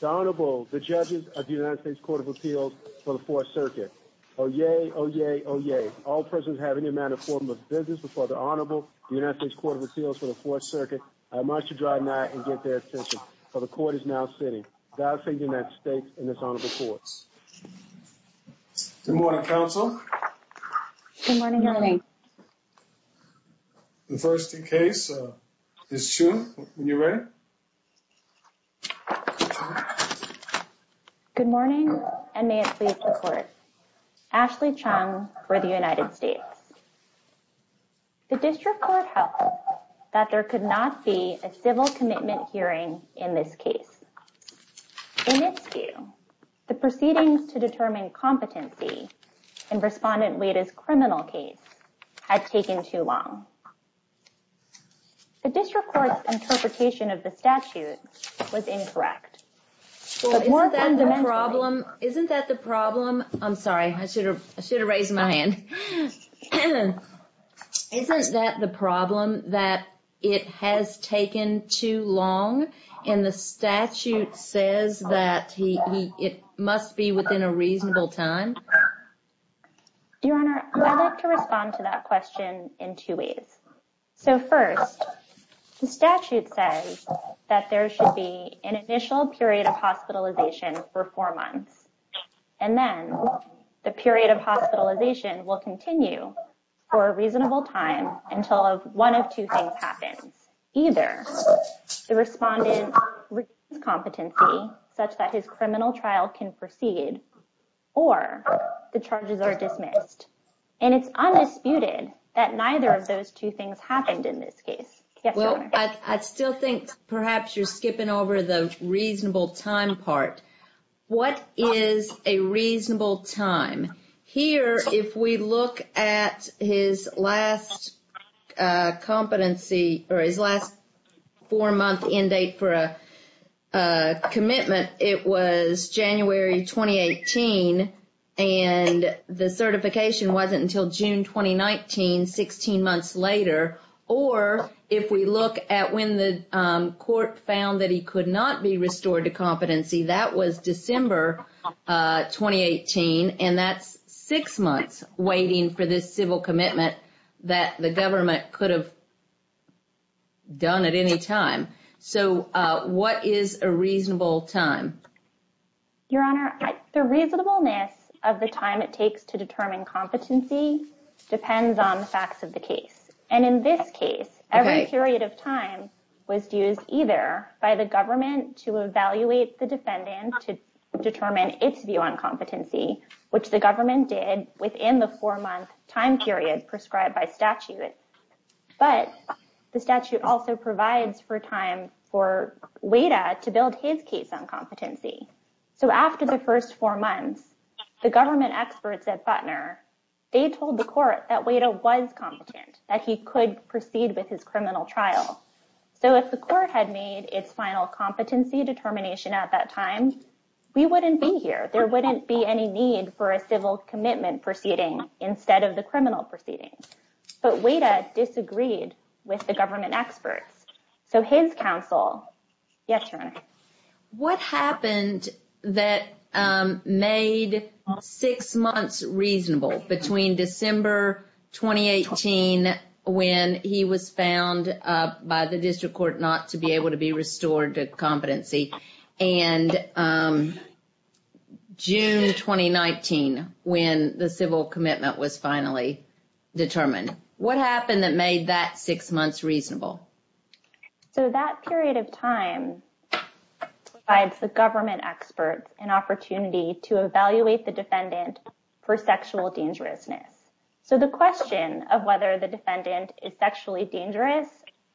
The Honorable, the Judges of the United States Court of Appeals for the 4th Circuit. Oyez, oyez, oyez. All persons have any amount of form of business before the Honorable, the United States Court of Appeals for the 4th Circuit. I must adjourn now and get their attention, for the Court is now sitting. God save the United States and this Honorable Court. Good morning, Counsel. Good morning, Your Honor. The first in case is June. When you're ready. Good morning, and may it please the Court. Ashley Chung for the United States. The District Court held that there could not be a civil commitment hearing in this case. In its view, the proceedings to determine competency in Respondent Wayda's criminal case had taken too long. The District Court's interpretation of the statute was incorrect. Isn't that the problem? Isn't that the problem? I'm sorry, I should have raised my hand. Isn't that the problem that it has taken too long and the statute says that it must be within a reasonable time? Your Honor, I'd like to respond to that question in two ways. So first, the statute says that there should be an initial period of hospitalization for four months. And then the period of hospitalization will continue for a reasonable time until one of two things happens. Either the respondent reduces competency such that his criminal trial can proceed, or the charges are dismissed. And it's undisputed that neither of those two things happened in this case. Well, I still think perhaps you're skipping over the reasonable time part. What is a reasonable time? Here, if we look at his last four-month end date for a commitment, it was January 2018. And the certification wasn't until June 2019, 16 months later. Or if we look at when the court found that he could not be restored to competency, that was December 2018. And that's six months waiting for this civil commitment that the government could have done at any time. So what is a reasonable time? Your Honor, the reasonableness of the time it takes to determine competency depends on the facts of the case. And in this case, every period of time was used either by the government to evaluate the defendant to determine its view on competency, which the government did within the four-month time period prescribed by statute. But the statute also provides for time for WADA to build his case on competency. So after the first four months, the government experts at Butner, they told the court that WADA was competent, that he could proceed with his criminal trial. So if the court had made its final competency determination at that time, we wouldn't be here. There wouldn't be any need for a civil commitment proceeding instead of the criminal proceeding. But WADA disagreed with the government experts. So his counsel, yes, Your Honor? What happened that made six months reasonable between December 2018, when he was found by the district court not to be able to be restored to competency, and June 2019, when the civil commitment was finally determined? What happened that made that six months reasonable? So that period of time provides the government experts an opportunity to evaluate the defendant for sexual dangerousness. So the question of whether the defendant is sexually dangerous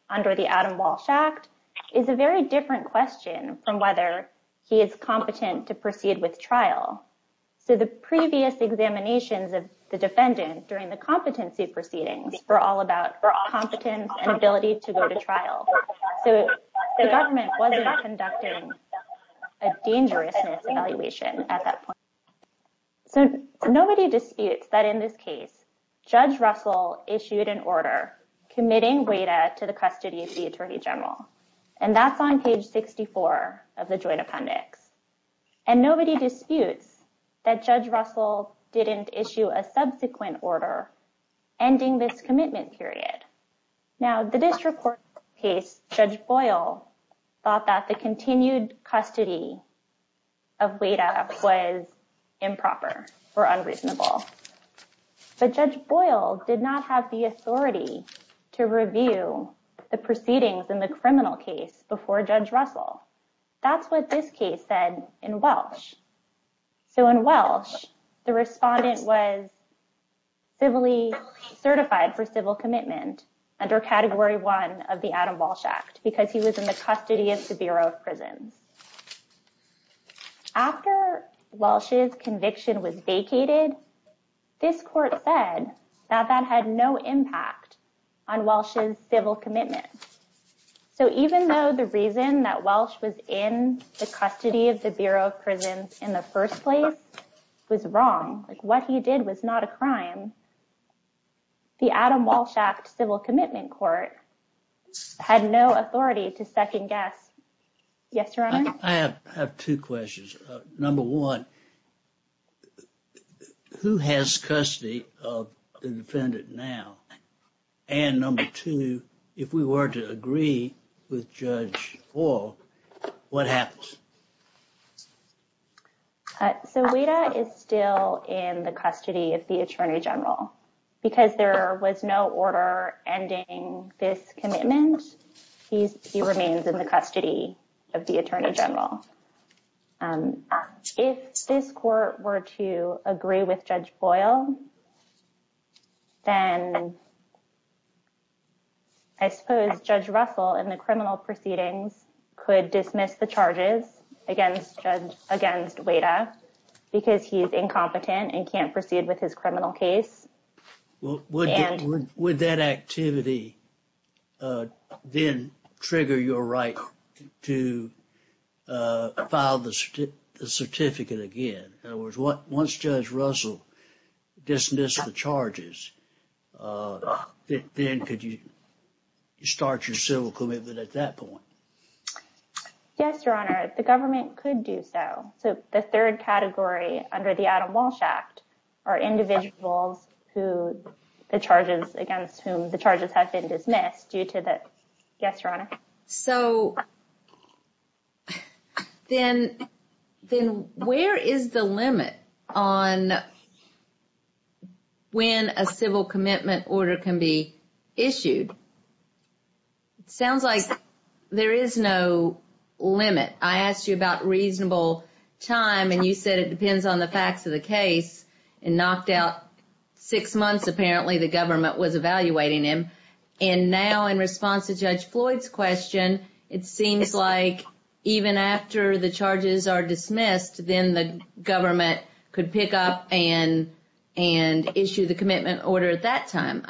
under the Adam Walsh Act is a very different question from whether he is competent to proceed with trial. So the previous examinations of the defendant during the competency proceedings were all about competence and ability to go to trial. So the government wasn't conducting a dangerousness evaluation at that point. So nobody disputes that in this case, Judge Russell issued an order committing WADA to the custody of the attorney general. And that's on page 64 of the joint appendix. And nobody disputes that Judge Russell didn't issue a subsequent order ending this commitment period. Now, the district court case, Judge Boyle thought that the continued custody of WADA was improper or unreasonable. But Judge Boyle did not have the authority to review the proceedings in the criminal case before Judge Russell. That's what this case said in Welsh. So in Welsh, the respondent was civilly certified for civil commitment under Category 1 of the Adam Walsh Act because he was in the custody of the Bureau of Prisons. After Welsh's conviction was vacated, this court said that that had no impact on Welsh's civil commitment. So even though the reason that Welsh was in the custody of the Bureau of Prisons in the first place was wrong, like what he did was not a crime, the Adam Walsh Act Civil Commitment Court had no authority to second guess. Yes, Your Honor. I have two questions. Number one, who has custody of the defendant now? And number two, if we were to agree with Judge Boyle, what happens? So WADA is still in the custody of the Attorney General. Because there was no order ending this commitment, he remains in the custody of the Attorney General. If this court were to agree with Judge Boyle, then I suppose Judge Russell in the criminal proceedings could dismiss the charges against WADA because he is incompetent and can't proceed with his criminal case. Would that activity then trigger your right to file the certificate again? In other words, once Judge Russell dismissed the charges, then could you start your civil commitment at that point? Yes, Your Honor. The government could do so. So the third category under the Adam Walsh Act are individuals who the charges against whom the charges have been dismissed due to that. Yes, Your Honor. So then where is the limit on when a civil commitment order can be issued? It sounds like there is no limit. I asked you about reasonable time, and you said it depends on the facts of the case. And knocked out six months apparently the government was evaluating him. And now in response to Judge Floyd's question, it seems like even after the charges are dismissed, then the government could pick up and issue the commitment order at that time.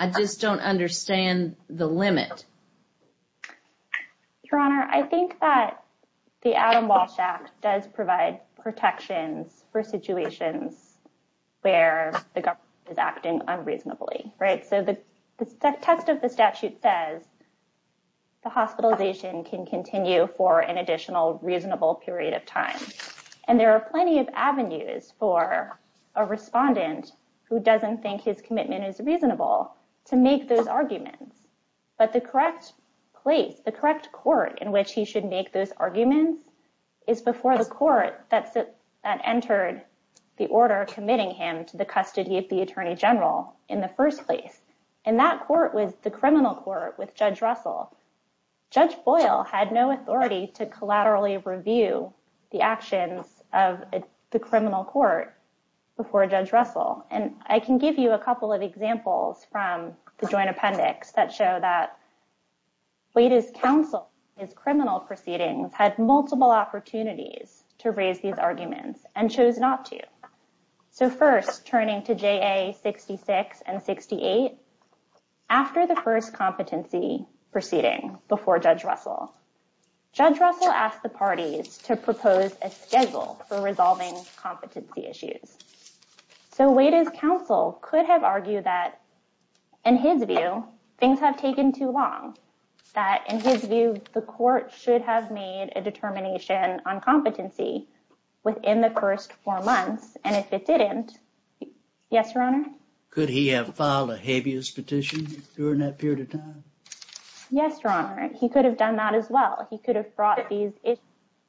Your Honor, I think that the Adam Walsh Act does provide protections for situations where the government is acting unreasonably. So the text of the statute says the hospitalization can continue for an additional reasonable period of time. And there are plenty of avenues for a respondent who doesn't think his commitment is reasonable to make those arguments. But the correct place, the correct court in which he should make those arguments is before the court that entered the order committing him to the custody of the Attorney General in the first place. And that court was the criminal court with Judge Russell. Judge Boyle had no authority to collaterally review the actions of the criminal court before Judge Russell. And I can give you a couple of examples from the joint appendix that show that Wade's counsel in his criminal proceedings had multiple opportunities to raise these arguments and chose not to. So first, turning to JA 66 and 68, after the first competency proceeding before Judge Russell, Judge Russell asked the parties to propose a schedule for resolving competency issues. So Wade's counsel could have argued that, in his view, things have taken too long. That, in his view, the court should have made a determination on competency within the first four months. And if it didn't, yes, Your Honor? Could he have filed a habeas petition during that period of time? Yes, Your Honor. He could have done that as well. He could have brought these issues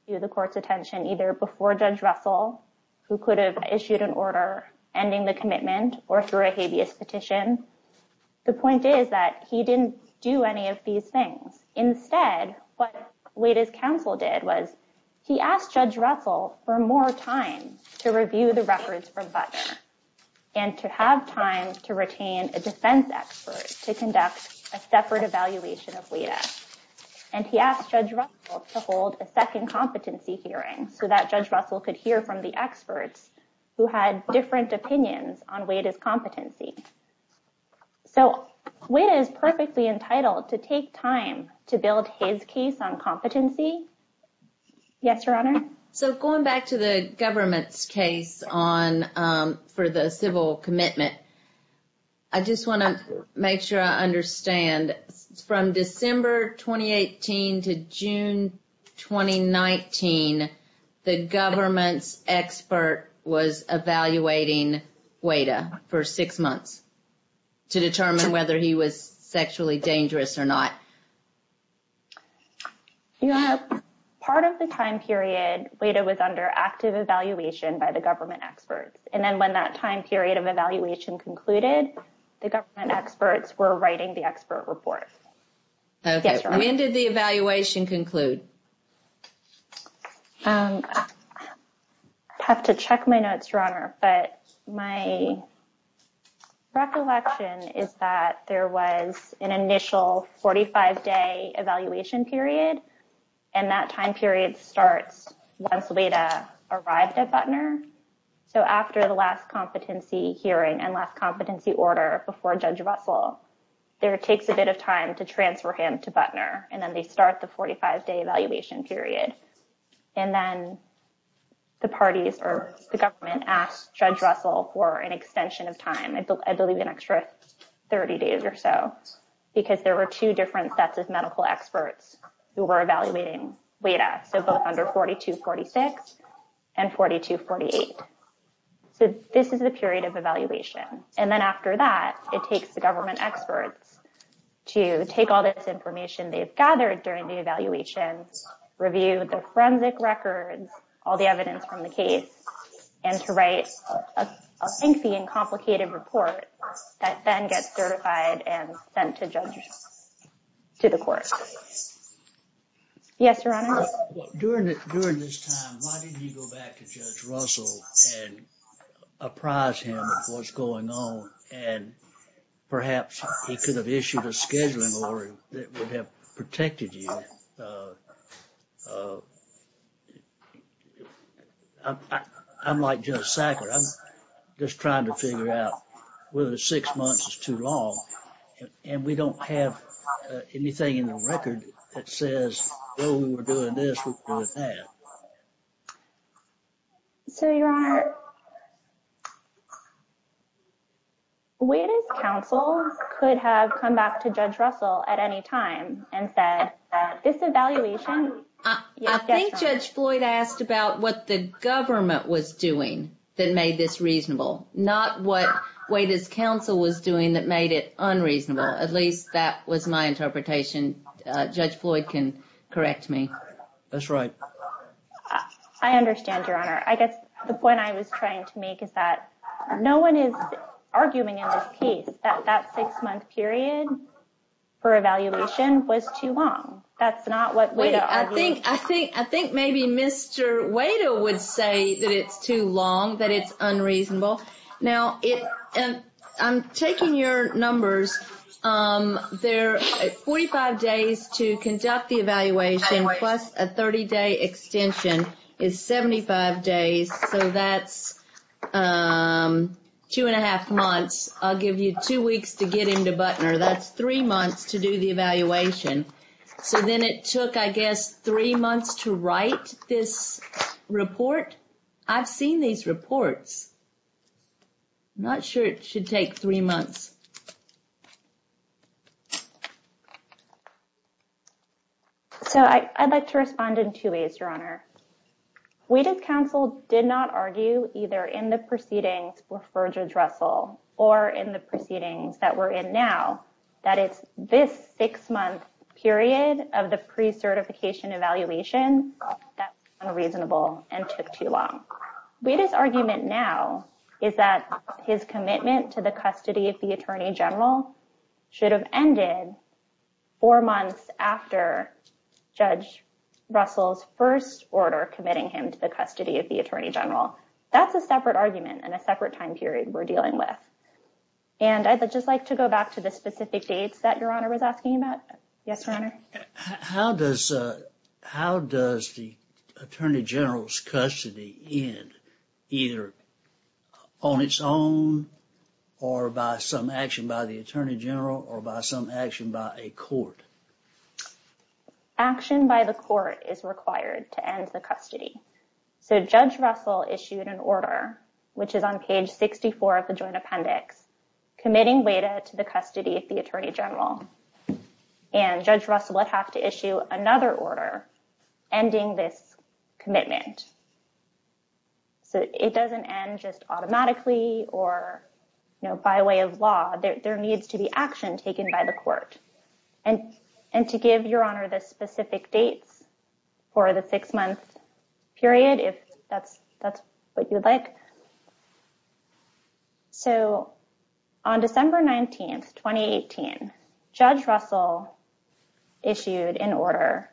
to the court's attention either before Judge Russell, who could have issued an order ending the commitment, or through a habeas petition. The point is that he didn't do any of these things. Instead, what Wade's counsel did was he asked Judge Russell for more time to review the records from Butler and to have time to retain a defense expert to conduct a separate evaluation of Wade. And he asked Judge Russell to hold a second competency hearing so that Judge Russell could hear from the experts who had different opinions on Wade's competency. So Wade is perfectly entitled to take time to build his case on competency. Yes, Your Honor? So going back to the government's case for the civil commitment, I just want to make sure I understand. From December 2018 to June 2019, the government's expert was evaluating Wade for six months to determine whether he was sexually dangerous or not. Part of the time period, Wade was under active evaluation by the government experts. And then when that time period of evaluation concluded, the government experts were writing the expert report. When did the evaluation conclude? I have to check my notes, Your Honor, but my recollection is that there was an initial 45-day evaluation period. And that time period starts once Wade arrived at Butler. So after the last competency hearing and last competency order before Judge Russell, there takes a bit of time to transfer him to Butler, and then they start the 45-day evaluation period. And then the parties or the government asked Judge Russell for an extension of time, I believe an extra 30 days or so, because there were two different sets of medical experts who were evaluating Wade. So both under 4246 and 4248. So this is the period of evaluation. And then after that, it takes the government experts to take all this information they've gathered during the evaluation, review the forensic records, all the evidence from the case, and to write a lengthy and complicated report that then gets certified and sent to Judge Russell, to the court. Yes, Your Honor? During this time, why didn't you go back to Judge Russell and apprise him of what's going on, and perhaps he could have issued a scheduling order that would have protected you? I'm like Judge Sackler. I'm just trying to figure out whether six months is too long, and we don't have anything in the record that says, when we were doing this, we were doing that. So, Your Honor, Wade's counsel could have come back to Judge Russell at any time and said, this evaluation... I think Judge Floyd asked about what the government was doing that made this reasonable, not what Wade's counsel was doing that made it unreasonable. At least that was my interpretation. Judge Floyd can correct me. That's right. I understand, Your Honor. I guess the point I was trying to make is that no one is arguing in this case that that six-month period for evaluation was too long. That's not what Wade argued. I think maybe Mr. Wade would say that it's too long, that it's unreasonable. Now, I'm taking your numbers. 45 days to conduct the evaluation plus a 30-day extension is 75 days, so that's two and a half months. I'll give you two weeks to get into Butner. That's three months to do the evaluation. So then it took, I guess, three months to write this report. I've seen these reports. I'm not sure it should take three months. So I'd like to respond in two ways, Your Honor. Wade's counsel did not argue either in the proceedings with Verge Russell or in the proceedings that we're in now that it's this six-month period of the pre-certification evaluation that's unreasonable and took too long. Wade's argument now is that his commitment to the custody of the Attorney General should have ended four months after Judge Russell's first order committing him to the custody of the Attorney General. That's a separate argument and a separate time period we're dealing with. And I'd just like to go back to the specific dates that Your Honor was asking about. Yes, Your Honor? How does the Attorney General's custody end, either on its own or by some action by the Attorney General or by some action by a court? Action by the court is required to end the custody. So Judge Russell issued an order, which is on page 64 of the Joint Appendix, committing Wade to the custody of the Attorney General. And Judge Russell would have to issue another order ending this commitment. So it doesn't end just automatically or by way of law. There needs to be action taken by the court. And to give Your Honor the specific dates for the six-month period, if that's what you'd like. So on December 19, 2018, Judge Russell issued an order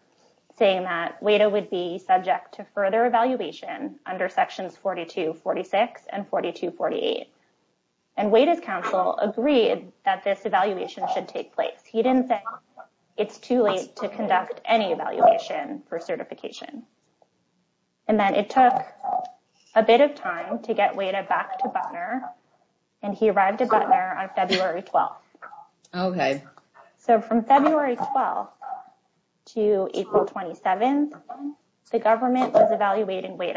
saying that Wade would be subject to further evaluation under Sections 42-46 and 42-48. And Wade's counsel agreed that this evaluation should take place. He didn't say it's too late to conduct any evaluation for certification. And then it took a bit of time to get Wade back to Butner. And he arrived at Butner on February 12. Okay. So from February 12 to April 27, the government was evaluating Wade.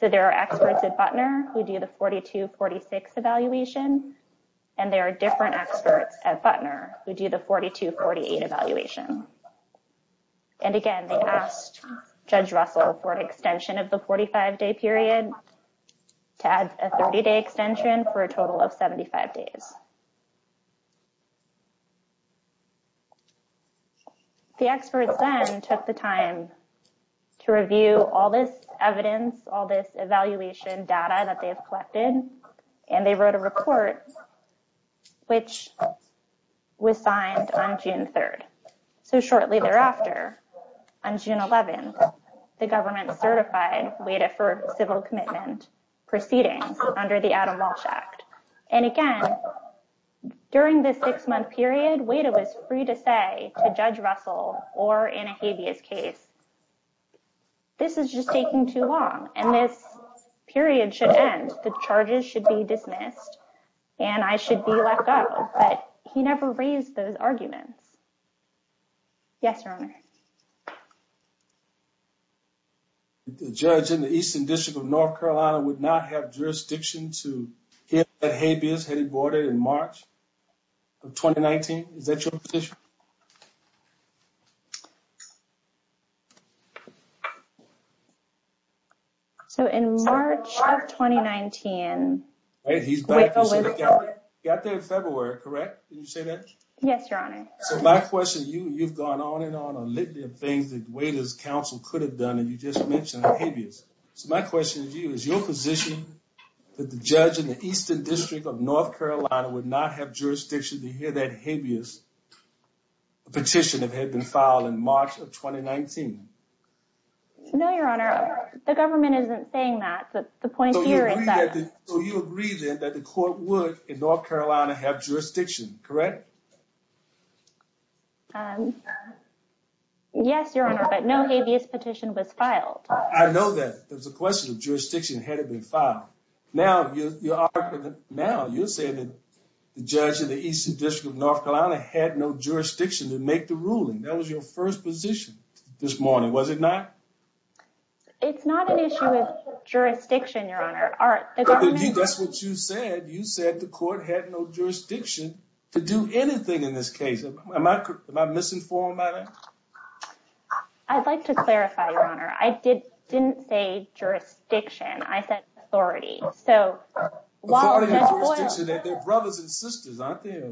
So there are experts at Butner who do the 42-46 evaluation. And there are different experts at Butner who do the 42-48 evaluation. And again, they asked Judge Russell for an extension of the 45-day period to add a 30-day extension for a total of 75 days. The experts then took the time to review all this evidence, all this evaluation data that they have collected. And they wrote a report, which was signed on June 3. So shortly thereafter, on June 11, the government certified Wade for civil commitment proceedings under the Adam Walsh Act. And again, during this six-month period, Wade was free to say to Judge Russell or in a habeas case, this is just taking too long and this period should end. The charges should be dismissed. And I should be let go. But he never raised those arguments. Yes, Your Honor. The judge in the Eastern District of North Carolina would not have jurisdiction to hear that habeas had been boarded in March of 2019. Is that your position? So in March of 2019. He's back. He got there in February, correct? Did you say that? Yes, Your Honor. So my question to you, you've gone on and on a litany of things that Wade's counsel could have done and you just mentioned habeas. So my question to you, is your position that the judge in the Eastern District of North Carolina would not have jurisdiction to hear that habeas had been boarded in March of 2019? A petition that had been filed in March of 2019. No, Your Honor. The government isn't saying that. But the point here is that. So you agree then that the court would in North Carolina have jurisdiction, correct? Yes, Your Honor, but no habeas petition was filed. I know that there's a question of jurisdiction had it been filed. Now, you're saying that the judge in the Eastern District of North Carolina had no jurisdiction to make the ruling. That was your first position this morning, was it not? It's not an issue of jurisdiction, Your Honor. That's what you said. You said the court had no jurisdiction to do anything in this case. Am I misinformed by that? I'd like to clarify, Your Honor. I didn't say jurisdiction. I said authority. Authority and jurisdiction, they're brothers and sisters, aren't they?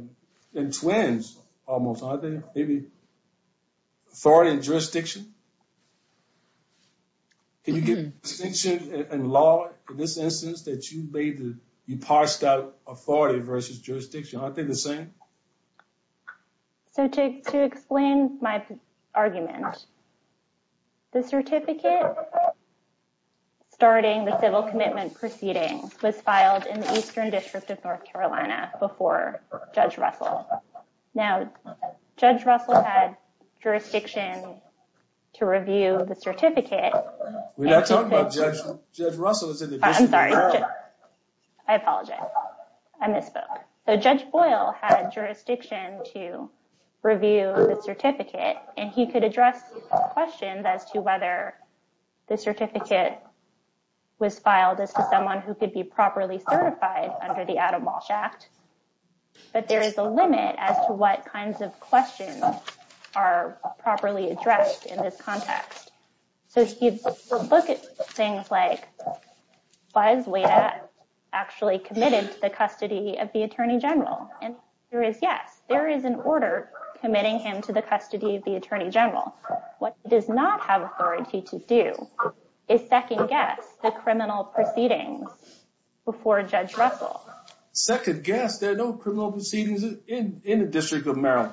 And twins almost, aren't they? Maybe authority and jurisdiction? Can you give distinction in law in this instance that you parsed out authority versus jurisdiction? Aren't they the same? So to explain my argument, the certificate starting the civil commitment proceeding was filed in the Eastern District of North Carolina before Judge Russell. Now, Judge Russell had jurisdiction to review the certificate. We're not talking about Judge Russell. I'm sorry. I apologize. I misspoke. So Judge Boyle had jurisdiction to review the certificate, and he could address questions as to whether the certificate was filed as to someone who could be properly certified under the Adam Walsh Act. But there is a limit as to what kinds of questions are properly addressed in this context. So if you look at things like, was Wada actually committed to the custody of the Attorney General? And the answer is yes. There is an order committing him to the custody of the Attorney General. What he does not have authority to do is second guess the criminal proceedings before Judge Russell. Second guess, there are no criminal proceedings in the District of Maryland.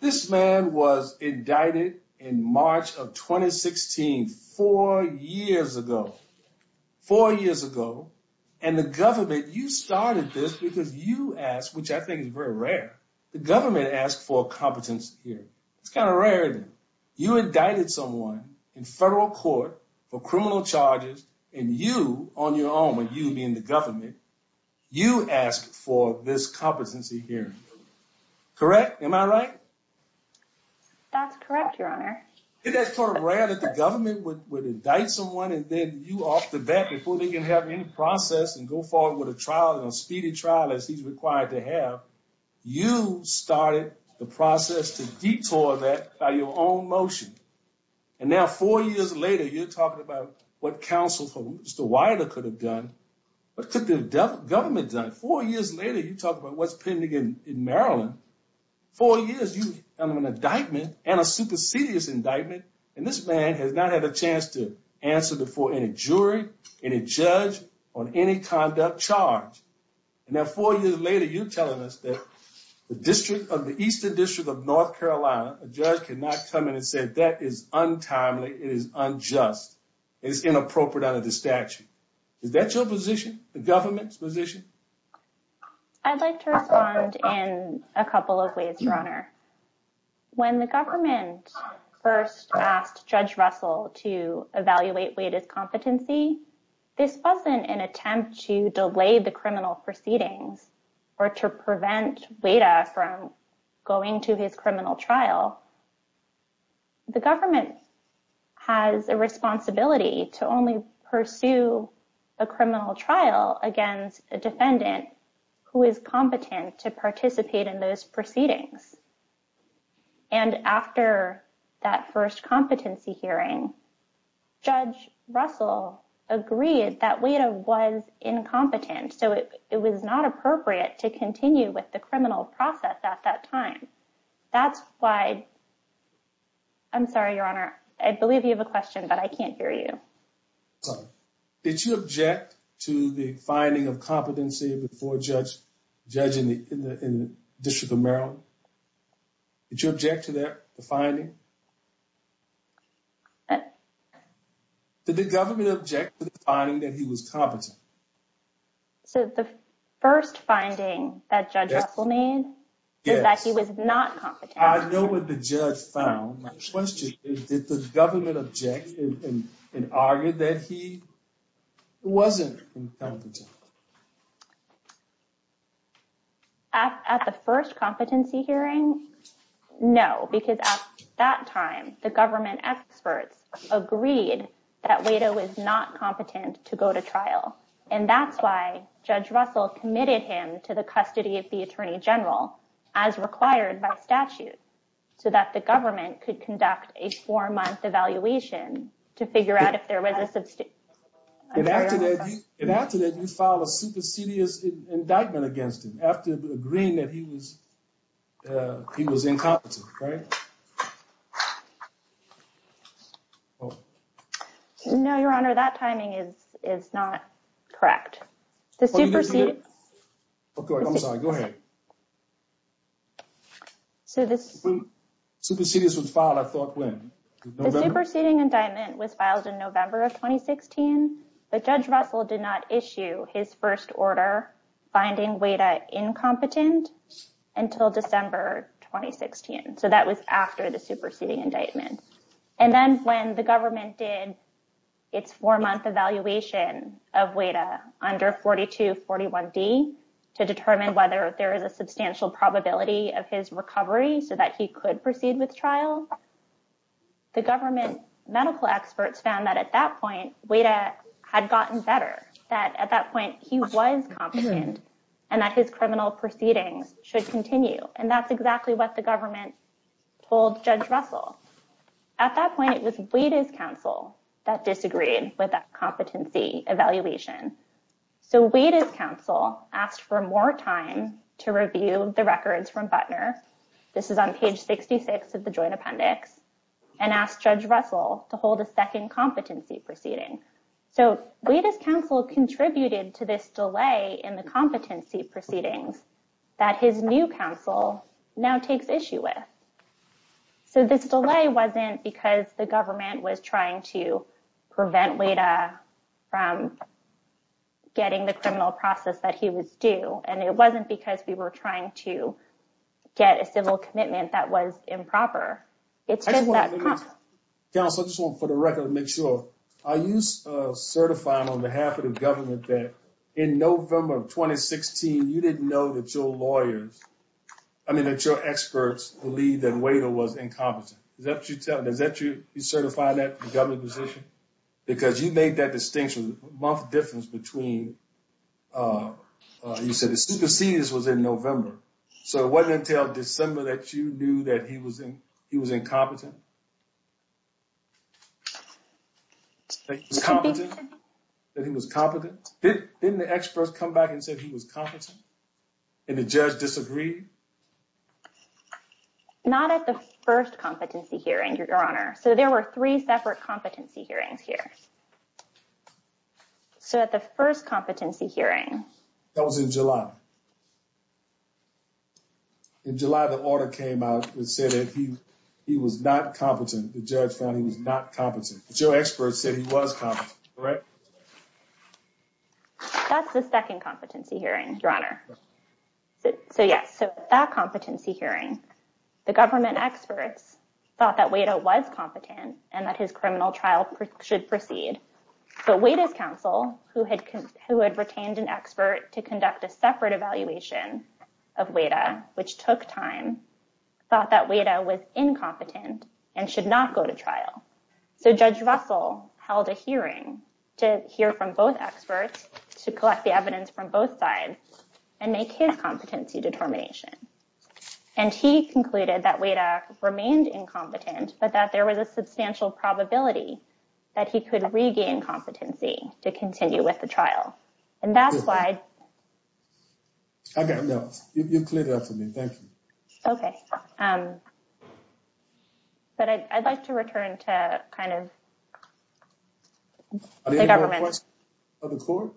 This man was indicted in March of 2016, four years ago. Four years ago, and the government, you started this because you asked, which I think is very rare, the government asked for a competence hearing. It's kind of rare. You indicted someone in federal court for criminal charges, and you, on your own, you being the government, you asked for this competency hearing. Correct? Am I right? That's correct, Your Honor. That's sort of rare that the government would indict someone and then you off the bat, before they can have any process and go forward with a trial, a speedy trial as he's required to have. You started the process to detour that by your own motion. And now four years later, you're talking about what counsel for Mr. Wada could have done. What could the government have done? Four years later, you talk about what's pending in Maryland. Four years, you have an indictment and a supersedious indictment. And this man has not had a chance to answer before any jury, any judge on any conduct charge. And now four years later, you're telling us that the district of the Eastern District of North Carolina, a judge cannot come in and say that is untimely, it is unjust, it is inappropriate under the statute. Is that your position? The government's position? I'd like to respond in a couple of ways, Your Honor. When the government first asked Judge Russell to evaluate Wada's competency, this wasn't an attempt to delay the criminal proceedings or to prevent Wada from going to his criminal trial. The government has a responsibility to only pursue a criminal trial against a defendant who is competent to participate in those proceedings. And after that first competency hearing, Judge Russell agreed that Wada was incompetent. So it was not appropriate to continue with the criminal process at that time. That's why, I'm sorry, Your Honor, I believe you have a question, but I can't hear you. Did you object to the finding of competency before judging in the District of Maryland? Did you object to that finding? Did the government object to the finding that he was competent? So the first finding that Judge Russell made is that he was not competent. I know what the judge found. My question is, did the government object and argue that he wasn't competent? At the first competency hearing? No, because at that time, the government experts agreed that Wada was not competent to go to trial. And that's why Judge Russell committed him to the custody of the Attorney General, as required by statute, so that the government could conduct a four-month evaluation to figure out if there was a... And after that, you filed a supersedious indictment against him, after agreeing that he was incompetent, right? No, Your Honor, that timing is not correct. Okay, I'm sorry. Go ahead. Supersedious was filed, I thought, when? November? The superseding indictment was filed in November of 2016, but Judge Russell did not issue his first order finding Wada incompetent until December 2016. So that was after the superseding indictment. And then when the government did its four-month evaluation of Wada under 4241D to determine whether there is a substantial probability of his recovery so that he could proceed with trial, the government medical experts found that at that point, Wada had gotten better, that at that point, he was competent, and that his criminal proceedings should continue. And that's exactly what the government told Judge Russell. At that point, it was Wada's counsel that disagreed with that competency evaluation. So Wada's counsel asked for more time to review the records from Butner. This is on page 66 of the joint appendix, and asked Judge Russell to hold a second competency proceeding. So Wada's counsel contributed to this delay in the competency proceedings that his new counsel now takes issue with. So this delay wasn't because the government was trying to prevent Wada from getting the criminal process that he was due, and it wasn't because we were trying to get a civil commitment that was improper. Counsel, I just want, for the record, to make sure, are you certifying on behalf of the government that in November of 2016, you didn't know that your lawyers, I mean, that your experts believed that Wada was incompetent? Is that what you're telling, is that what you're certifying that, the government position? Because you made that distinction, a month difference between, you said the supersedes was in November. So it wasn't until December that you knew that he was incompetent? That he was competent? Didn't the experts come back and say he was competent? And the judge disagreed? Not at the first competency hearing, Your Honor. So there were three separate competency hearings here. So at the first competency hearing. That was in July. In July, the order came out and said that he was not competent. The judge found he was not competent. But your experts said he was competent, correct? That's the second competency hearing, Your Honor. So yes, so at that competency hearing, the government experts thought that Wada was competent and that his criminal trial should proceed. But Wada's counsel, who had retained an expert to conduct a separate evaluation of Wada, which took time, thought that Wada was incompetent and should not go to trial. So Judge Russell held a hearing to hear from both experts to collect the evidence from both sides and make his competency determination. And he concluded that Wada remained incompetent, but that there was a substantial probability that he could regain competency to continue with the trial. And that's why... I got it. You cleared it up for me. Thank you. Okay. But I'd like to return to kind of... Are there any more questions from the court?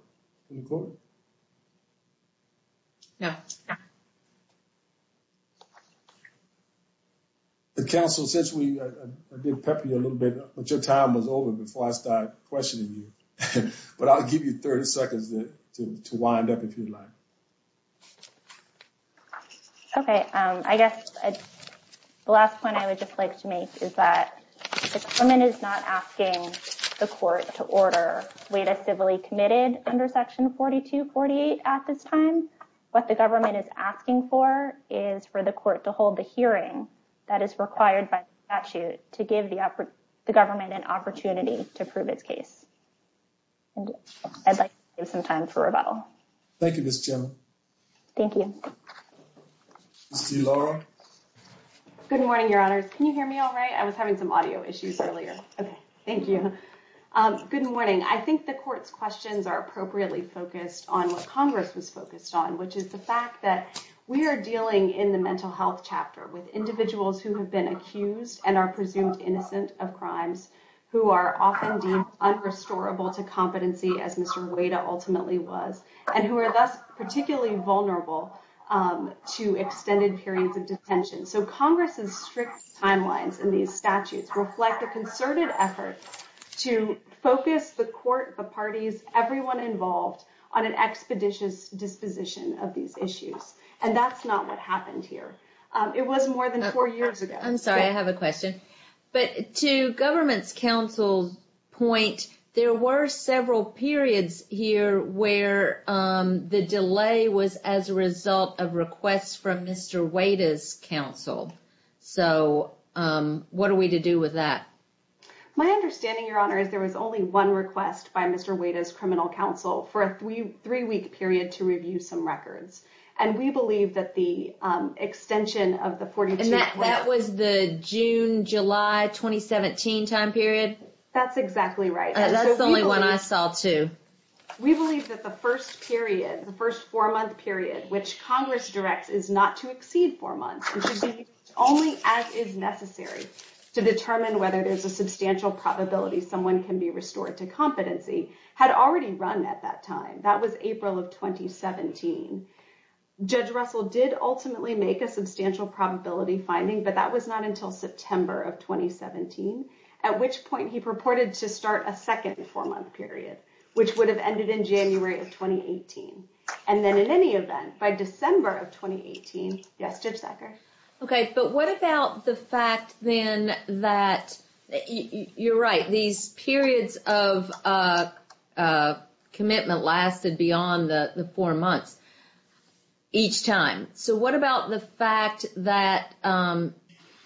No. Okay. Counsel, since we did pepper you a little bit, but your time was over before I started questioning you. But I'll give you 30 seconds to wind up if you'd like. Okay. I guess the last point I would just like to make is that the government is not asking the court to order Wada civilly committed under Section 4248 at this time. What the government is asking for is for the court to hold the hearing that is required by statute to give the government an opportunity to prove its case. And I'd like to give some time for rebuttal. Thank you, Ms. Jim. Thank you. Ms. Delora? Good morning, Your Honors. Can you hear me all right? I was having some audio issues earlier. Okay. Thank you. Good morning. I think the court's questions are appropriately focused on what Congress was focused on, which is the fact that we are dealing in the mental health chapter with individuals who have been accused and are presumed innocent of crimes who are often deemed unrestorable to competency, as Mr. Wada ultimately was, and who are thus particularly vulnerable to extended periods of detention. So Congress's strict timelines in these statutes reflect a concerted effort to focus the court, the parties, everyone involved, on an expeditious disposition of these issues. And that's not what happened here. It was more than four years ago. I'm sorry. I have a question. But to government's counsel's point, there were several periods here where the delay was as a result of requests from Mr. Wada's counsel. So what are we to do with that? My understanding, Your Honor, is there was only one request by Mr. Wada's criminal counsel for a three-week period to review some records. And we believe that the extension of the 42- That was the June-July 2017 time period? That's exactly right. That's the only one I saw, too. We believe that the first period, the first four-month period, which Congress directs is not to exceed four months, which is only as is necessary to determine whether there's a substantial probability someone can be restored to competency, had already run at that time. That was April of 2017. Judge Russell did ultimately make a substantial probability finding, but that was not until September of 2017, at which point he purported to start a second four-month period, which would have ended in January of 2018. And then, in any event, by December of 2018- Yes, Judge Sacker? Okay, but what about the fact, then, that you're right. These periods of commitment lasted beyond the four months each time. So what about the fact that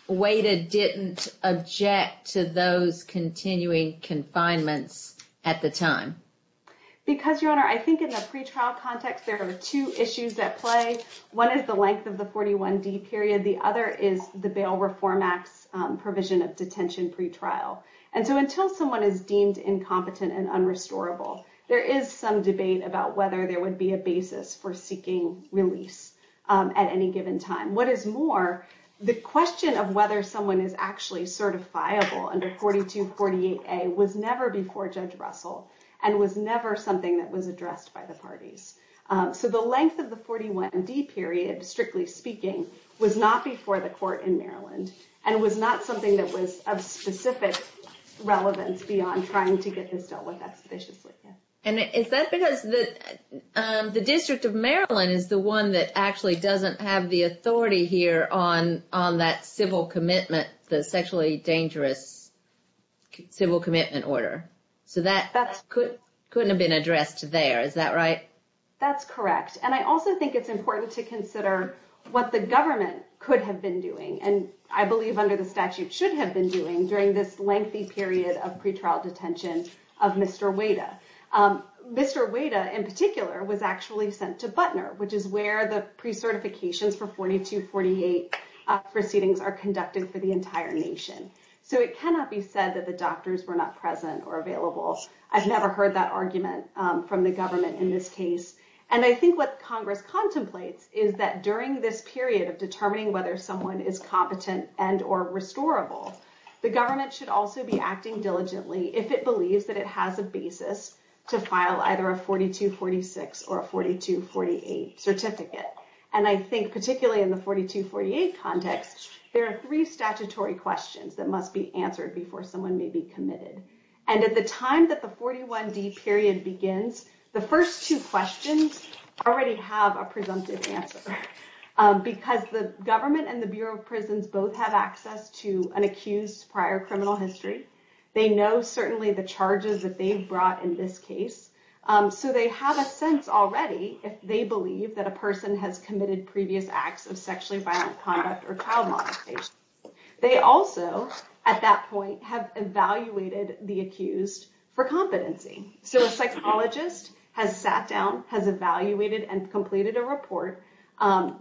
Wada didn't object to those continuing confinements at the time? Because, Your Honor, I think in the pretrial context, there are two issues at play. One is the length of the 41D period. The other is the Bail Reform Act's provision of detention pretrial. And so until someone is deemed incompetent and unrestorable, there is some debate about whether there would be a basis for seeking release at any given time. What is more, the question of whether someone is actually certifiable under 4248A was never before Judge Russell and was never something that was addressed by the parties. So the length of the 41D period, strictly speaking, was not before the court in Maryland and was not something that was of specific relevance beyond trying to get this dealt with expeditiously. And is that because the District of Maryland is the one that actually doesn't have the authority here on that civil commitment, the sexually dangerous civil commitment order? So that couldn't have been addressed there, is that right? That's correct. And I also think it's important to consider what the government could have been doing, and I believe under the statute should have been doing, during this lengthy period of pretrial detention of Mr. Wada. Mr. Wada, in particular, was actually sent to Butner, which is where the precertifications for 4248 proceedings are conducted for the entire nation. So it cannot be said that the doctors were not present or available. I've never heard that argument from the government in this case. And I think what Congress contemplates is that during this period of determining whether someone is competent and or restorable, the government should also be acting diligently if it believes that it has a basis to file either a 4246 or a 4248 certificate. And I think particularly in the 4248 context, there are three statutory questions that must be answered before someone may be committed. And at the time that the 41D period begins, the first two questions already have a presumptive answer, because the government and the Bureau of Prisons both have access to an accused prior criminal history. They know certainly the charges that they've brought in this case, so they have a sense already if they believe that a person has committed previous acts of sexually violent conduct or child molestation. They also, at that point, have evaluated the accused for competency. So a psychologist has sat down, has evaluated, and completed a report,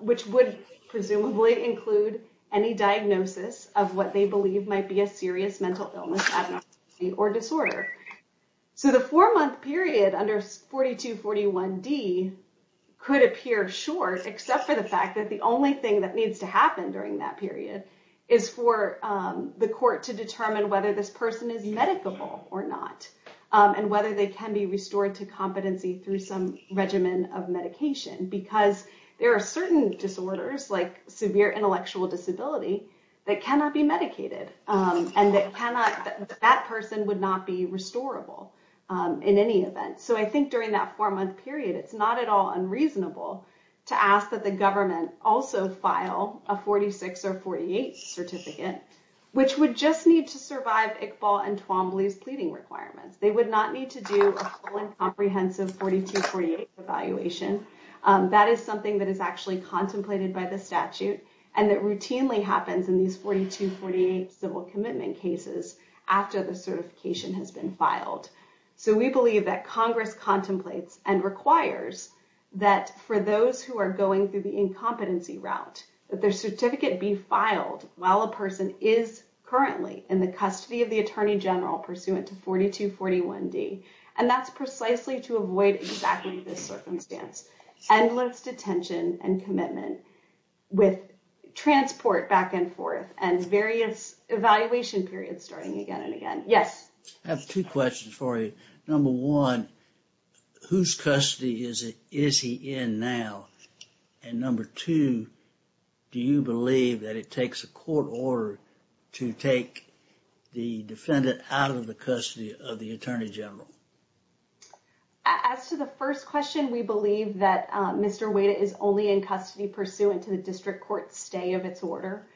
which would presumably include any diagnosis of what they believe might be a serious mental illness, addiction, or disorder. So the four-month period under 4241D could appear short, except for the fact that the only thing that needs to happen during that period is for the court to determine whether this person is medicable or not, and whether they can be restored to competency through some regimen of medication. Because there are certain disorders, like severe intellectual disability, that cannot be medicated, and that person would not be restorable in any event. So I think during that four-month period, it's not at all unreasonable to ask that the government also file a 46 or 48 certificate, which would just need to survive Iqbal and Twombly's pleading requirements. They would not need to do a full and comprehensive 4248 evaluation. That is something that is actually contemplated by the statute and that routinely happens in these 4248 civil commitment cases after the certification has been filed. So we believe that Congress contemplates and requires that for those who are going through the incompetency route, that their certificate be filed while a person is currently in the custody of the Attorney General pursuant to 4241D. And that's precisely to avoid exactly this circumstance, endless detention and commitment with transport back and forth and various evaluation periods starting again and again. I have two questions for you. Number one, whose custody is he in now? And number two, do you believe that it takes a court order to take the defendant out of the custody of the Attorney General? As to the first question, we believe that Mr. Wada is only in custody pursuant to the district court stay of its order,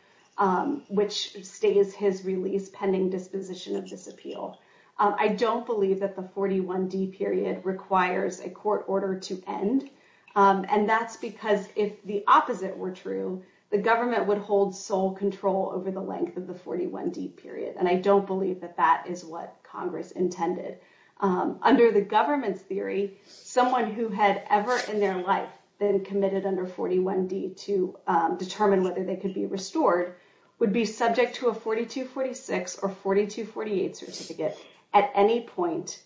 which stays his release pending disposition of this appeal. I don't believe that the 41D period requires a court order to end. And that's because if the opposite were true, the government would hold sole control over the length of the 41D period. And I don't believe that that is what Congress intended. Under the government's theory, someone who had ever in their life been committed under 41D to determine whether they could be restored would be subject to a 4246 or 4248 certificate at any point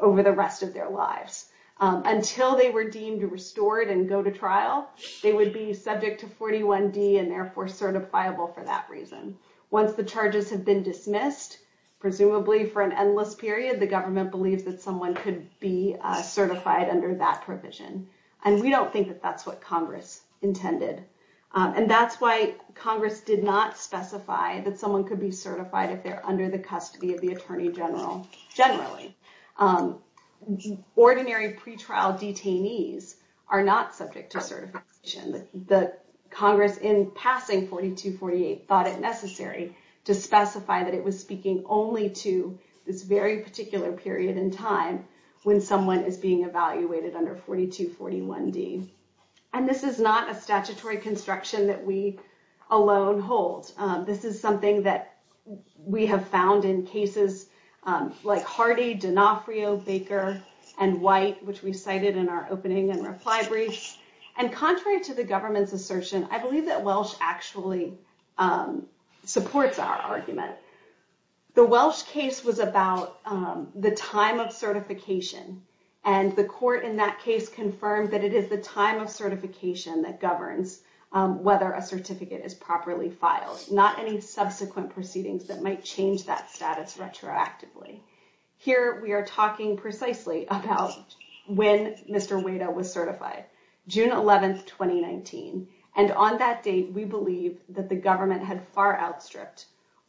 over the rest of their lives. Until they were deemed restored and go to trial, they would be subject to 41D and therefore certifiable for that reason. Once the charges have been dismissed, presumably for an endless period, the government believes that someone could be certified under that provision. And we don't think that that's what Congress intended. And that's why Congress did not specify that someone could be certified if they're under the custody of the Attorney General generally. Ordinary pretrial detainees are not subject to certification. Congress, in passing 4248, thought it necessary to specify that it was speaking only to this very particular period in time when someone is being evaluated under 4241D. And this is not a statutory construction that we alone hold. This is something that we have found in cases like Hardy, D'Onofrio, Baker, and White, which we cited in our opening and reply briefs. And contrary to the government's assertion, I believe that Welsh actually supports our argument. The Welsh case was about the time of certification. And the court in that case confirmed that it is the time of certification that governs whether a certificate is properly filed, not any subsequent proceedings that might change that status retroactively. Here we are talking precisely about when Mr. Wada was certified, June 11th, 2019. And on that date, we believe that the government had far outstripped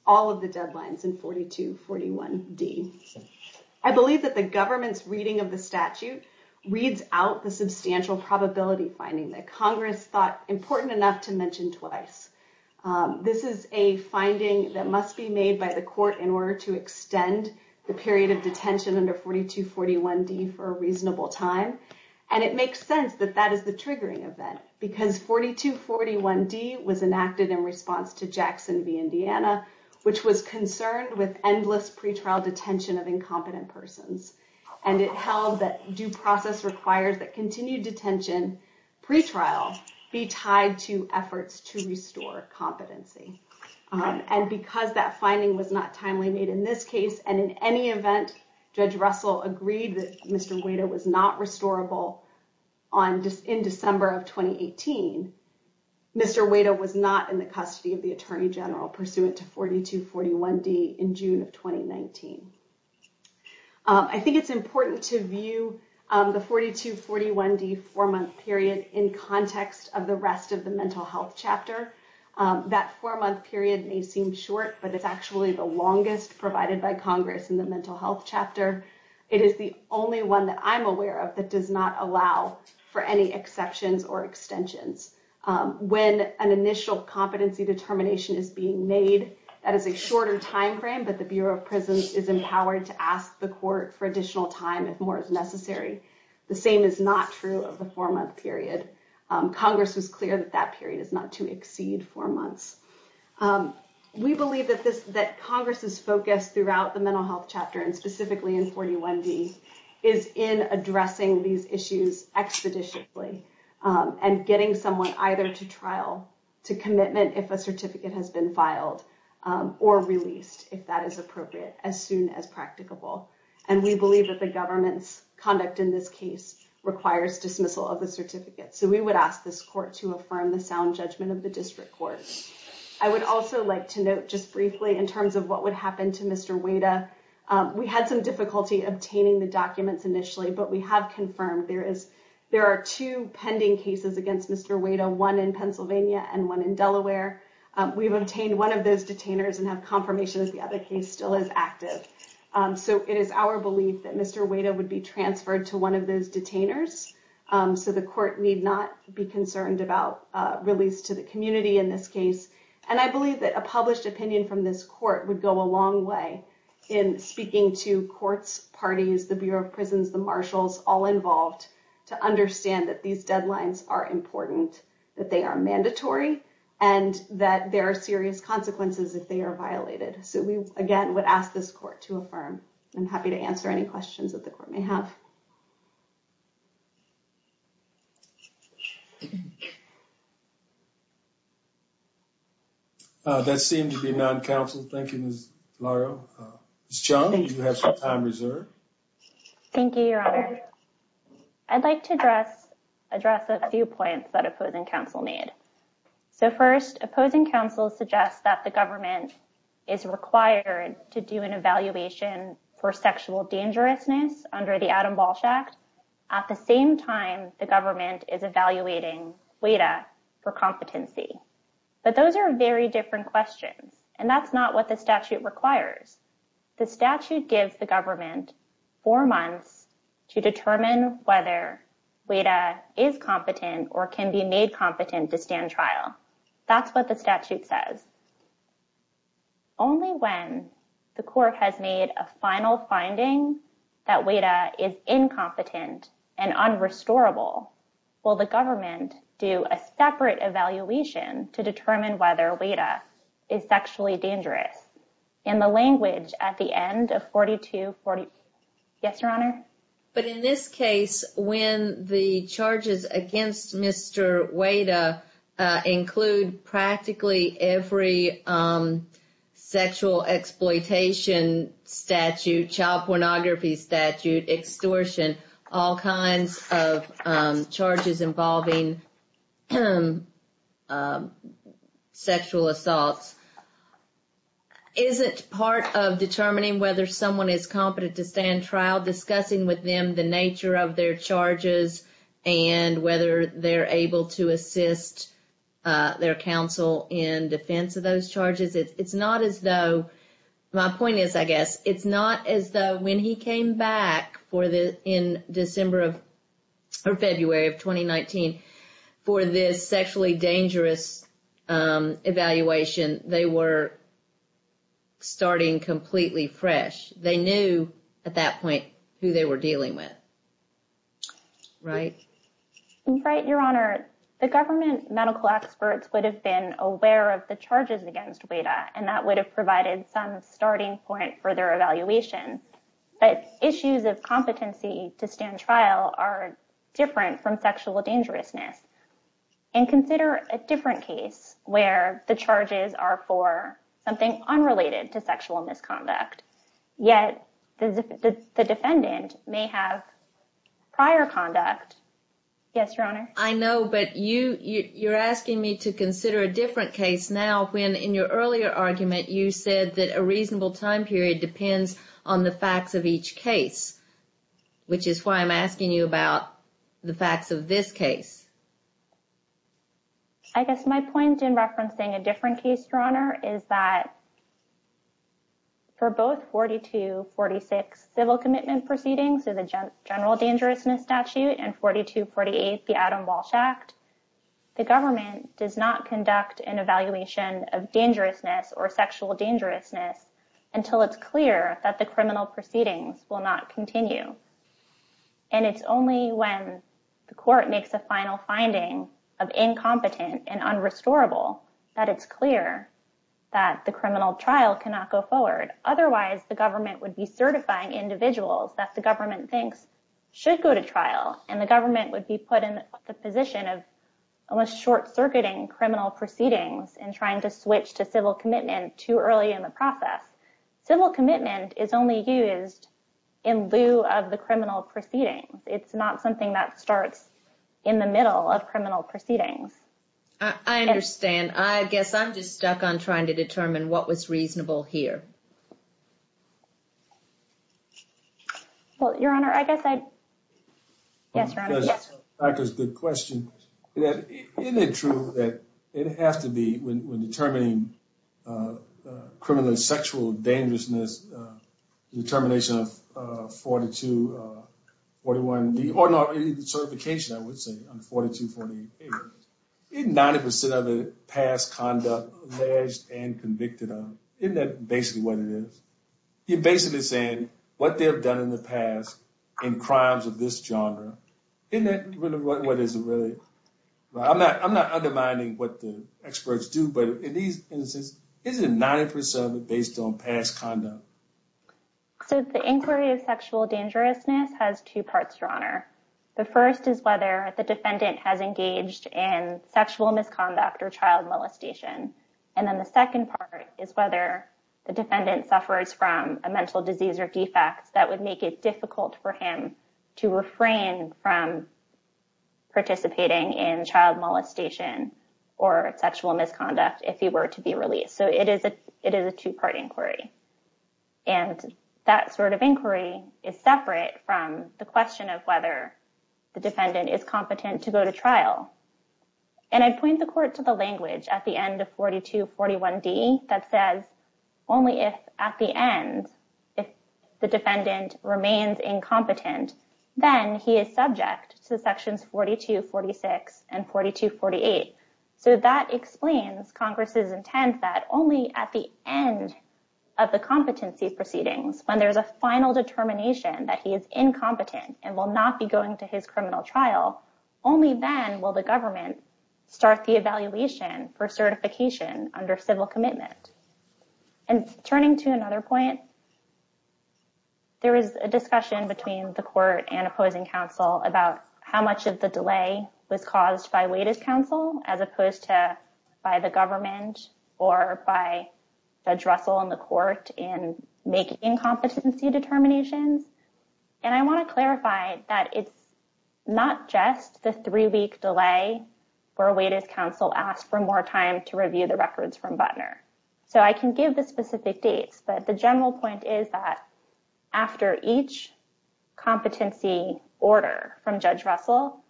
all of the deadlines in 4241D. I believe that the government's reading of the statute reads out the substantial probability finding that Congress thought important enough to mention twice. This is a finding that must be made by the court in order to extend the period of detention under 4241D for a reasonable time. And it makes sense that that is the triggering event, because 4241D was enacted in response to Jackson v. Indiana, which was concerned with endless pretrial detention of incompetent persons. And it held that due process requires that continued detention pretrial be tied to efforts to restore competency. And because that finding was not timely made in this case, and in any event, Judge Russell agreed that Mr. Wada was not restorable in December of 2018, Mr. Wada was not in the custody of the attorney general pursuant to 4241D in June of 2019. I think it's important to view the 4241D four-month period in context of the rest of the mental health chapter. That four-month period may seem short, but it's actually the longest provided by Congress in the mental health chapter. It is the only one that I'm aware of that does not allow for any exceptions or extensions. When an initial competency determination is being made, that is a shorter timeframe, but the Bureau of Prisons is empowered to ask the court for additional time if more is necessary. The same is not true of the four-month period. Congress was clear that that period is not to exceed four months. We believe that Congress's focus throughout the mental health chapter, and specifically in 4241D, is in addressing these issues expeditiously and getting someone either to trial, to commitment if a certificate has been filed, or released if that is appropriate as soon as practicable. And we believe that the government's conduct in this case requires dismissal of the certificate. So we would ask this court to affirm the sound judgment of the district courts. I would also like to note just briefly in terms of what would happen to Mr. Wada. We had some difficulty obtaining the documents initially, but we have confirmed there are two pending cases against Mr. Wada, one in Pennsylvania and one in Delaware. We've obtained one of those detainers and have confirmation that the other case still is active. So it is our belief that Mr. Wada would be transferred to one of those detainers. So the court need not be concerned about release to the community in this case. And I believe that a published opinion from this court would go a long way in speaking to courts, parties, the Bureau of Prisons, the marshals, all involved, to understand that these deadlines are important, that they are mandatory, and that there are serious consequences if they are violated. So we, again, would ask this court to affirm. I'm happy to answer any questions that the court may have. That seemed to be non-counsel. Thank you, Ms. Larrow. Ms. Chung, you have some time reserved. Thank you, Your Honor. I'd like to address a few points that opposing counsel made. So first, opposing counsel suggests that the government is required to do an evaluation for sexual dangerousness under the Adam Walsh Act at the same time the government is evaluating Wada for competency. But those are very different questions, and that's not what the statute requires. The statute gives the government four months to determine whether Wada is competent or can be made competent to stand trial. That's what the statute says. Only when the court has made a final finding that Wada is incompetent and unrestorable will the government do a separate evaluation to determine whether Wada is sexually dangerous. But in this case, when the charges against Mr. Wada include practically every sexual exploitation statute, child pornography statute, extortion, all kinds of charges involving sexual assaults, isn't part of determining whether someone is competent to stand trial discussing with them the nature of their charges and whether they're able to assist their counsel in defense of those charges? My point is, I guess, it's not as though when he came back in December or February of 2019 for this sexually dangerous evaluation, they were starting completely fresh. They knew at that point who they were dealing with. Right? Your Honor, the government medical experts would have been aware of the charges against Wada, and that would have provided some starting point for their evaluation. But issues of competency to stand trial are different from sexual dangerousness. And consider a different case where the charges are for something unrelated to sexual misconduct, yet the defendant may have prior conduct. Yes, Your Honor. I know, but you're asking me to consider a different case now when in your earlier argument, you said that a reasonable time period depends on the facts of each case. Which is why I'm asking you about the facts of this case. I guess my point in referencing a different case, Your Honor, is that for both 4246 civil commitment proceedings, the general dangerousness statute and 4248 the Adam Walsh Act, the government does not conduct an evaluation of dangerousness or sexual dangerousness until it's clear that the criminal proceedings will not continue. And it's only when the court makes a final finding of incompetent and unrestorable that it's clear that the criminal trial cannot go forward. Otherwise, the government would be certifying individuals that the government thinks should go to trial. And the government would be put in the position of almost short-circuiting criminal proceedings and trying to switch to civil commitment too early in the process. Civil commitment is only used in lieu of the criminal proceedings. It's not something that starts in the middle of criminal proceedings. I understand. I guess I'm just stuck on trying to determine what was reasonable here. Well, Your Honor, I guess I... Yes, Your Honor. I guess that's a good question. Isn't it true that it has to be, when determining criminal sexual dangerousness, the determination of 4241, or no, the certification, I would say, on 4248, isn't 90% of the past conduct alleged and convicted of, isn't that basically what it is? You're basically saying what they have done in the past in crimes of this genre, isn't that really what it is? I'm not undermining what the experts do, but in these instances, isn't 90% based on past conduct? So the inquiry of sexual dangerousness has two parts, Your Honor. The first is whether the defendant has engaged in sexual misconduct or child molestation. And then the second part is whether the defendant suffers from a mental disease or defect that would make it difficult for him to refrain from participating in child molestation or sexual misconduct if he were to be released. So it is a two-part inquiry. And that sort of inquiry is separate from the question of whether the defendant is competent to go to trial. And I point the court to the language at the end of 4241D that says, only if at the end, if the defendant remains incompetent, then he is subject to sections 4246 and 4248. So that explains Congress's intent that only at the end of the competency proceedings, when there's a final determination that he is incompetent and will not be going to his criminal trial, only then will the government start the evaluation for certification under civil commitment. And turning to another point, there is a discussion between the court and opposing counsel about how much of the delay was caused by Waiter's counsel as opposed to by the government or by Judge Russell and the court in making competency determinations. And I want to clarify that it's not just the three-week delay where Waiter's counsel asked for more time to review the records from Butner. So I can give the specific dates, but the general point is that after each competency order from Judge Russell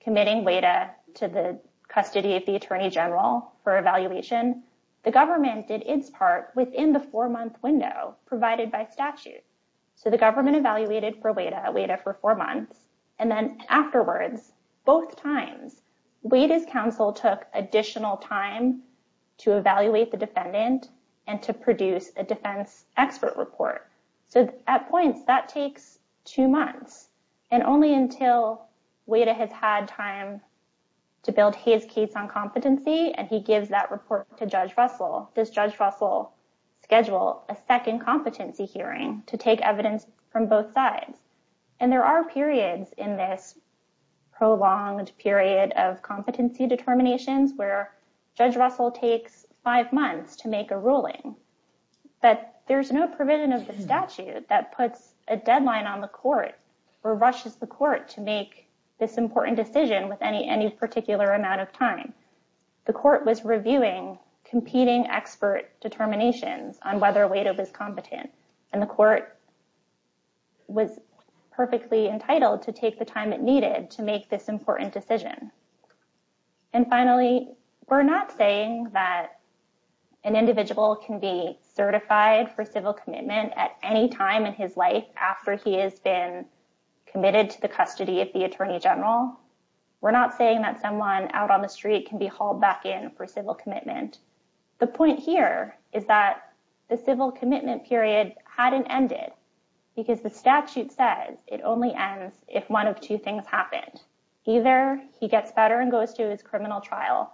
committing Waiter to the custody of the Attorney General for evaluation, the government did its part within the four-month window provided by statute. So the government evaluated for Waiter for four months, and then afterwards, both times, Waiter's counsel took additional time to evaluate the defendant and to produce a defense expert report. So at points, that takes two months, and only until Waiter has had time to build his case on competency and he gives that report to Judge Russell, does Judge Russell schedule a second competency hearing to take evidence from both sides? And there are periods in this prolonged period of competency determinations where Judge Russell takes five months to make a ruling, but there's no provision of the statute that puts a deadline on the court or rushes the court to make this important decision with any particular amount of time. The court was reviewing competing expert determinations on whether Waiter was competent, and the court was perfectly entitled to take the time it needed to make this important decision. And finally, we're not saying that an individual can be certified for civil commitment at any time in his life after he has been committed to the custody of the Attorney General. We're not saying that someone out on the street can be hauled back in for civil commitment. The point here is that the civil commitment period hadn't ended, because the statute says it only ends if one of two things happened. Either he gets better and goes to his criminal trial,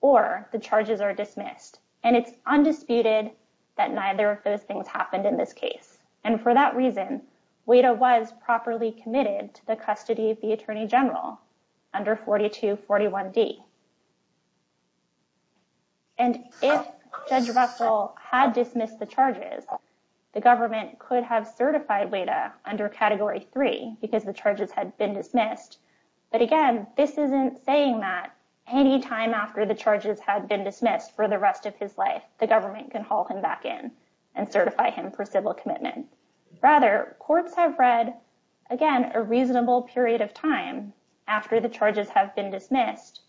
or the charges are dismissed, and it's undisputed that neither of those things happened in this case. And for that reason, Waiter was properly committed to the custody of the Attorney General under 4241D. And if Judge Russell had dismissed the charges, the government could have certified Waiter under Category 3 because the charges had been dismissed. But again, this isn't saying that any time after the charges had been dismissed for the rest of his life, the government can haul him back in and certify him for civil commitment. Rather, courts have read, again, a reasonable period of time after the charges have been dismissed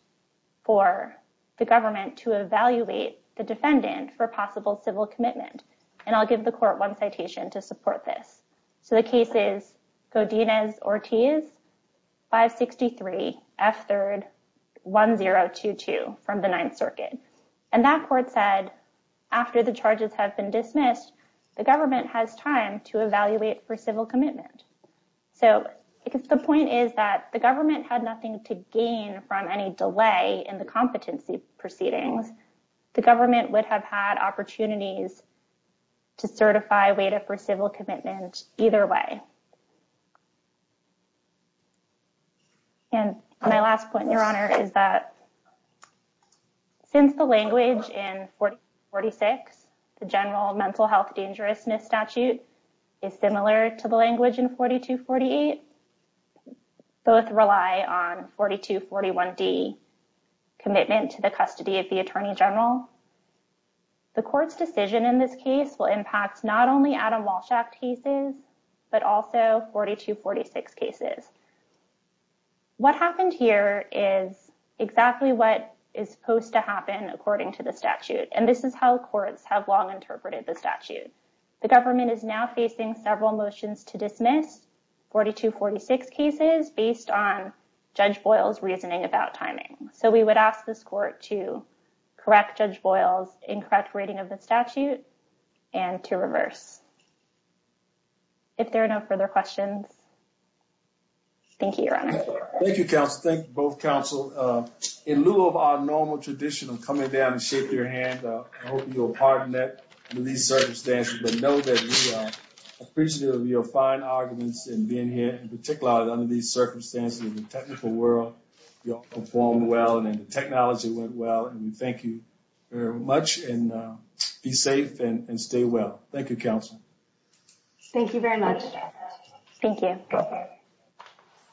for the government to evaluate the defendant for possible civil commitment. And I'll give the court one citation to support this. So the case is Godinez-Ortiz 563 F3rd 1022 from the Ninth Circuit. And that court said, after the charges have been dismissed, the government has time to evaluate for civil commitment. So the point is that the government had nothing to gain from any delay in the competency proceedings. The government would have had opportunities to certify Waiter for civil commitment either way. And my last point, Your Honor, is that since the language in 4246, the general mental health dangerousness statute is similar to the language in 4248, both rely on 4241D, commitment to the custody of the Attorney General. The court's decision in this case will impact not only Adam Walsh Act cases, but also 4246 cases. What happened here is exactly what is supposed to happen according to the statute. And this is how courts have long interpreted the statute. The government is now facing several motions to dismiss 4246 cases based on Judge Boyle's reasoning about timing. So we would ask this court to correct Judge Boyle's incorrect reading of the statute and to reverse. If there are no further questions, thank you, Your Honor. Thank you, counsel. Thank you both, counsel. In lieu of our normal tradition of coming down and shaking your hand, I hope you'll pardon that in these circumstances. But know that we are appreciative of your fine arguments and being here in particular under these circumstances in the technical world. You performed well and the technology went well. And we thank you very much and be safe and stay well. Thank you, counsel. Thank you very much. Thank you.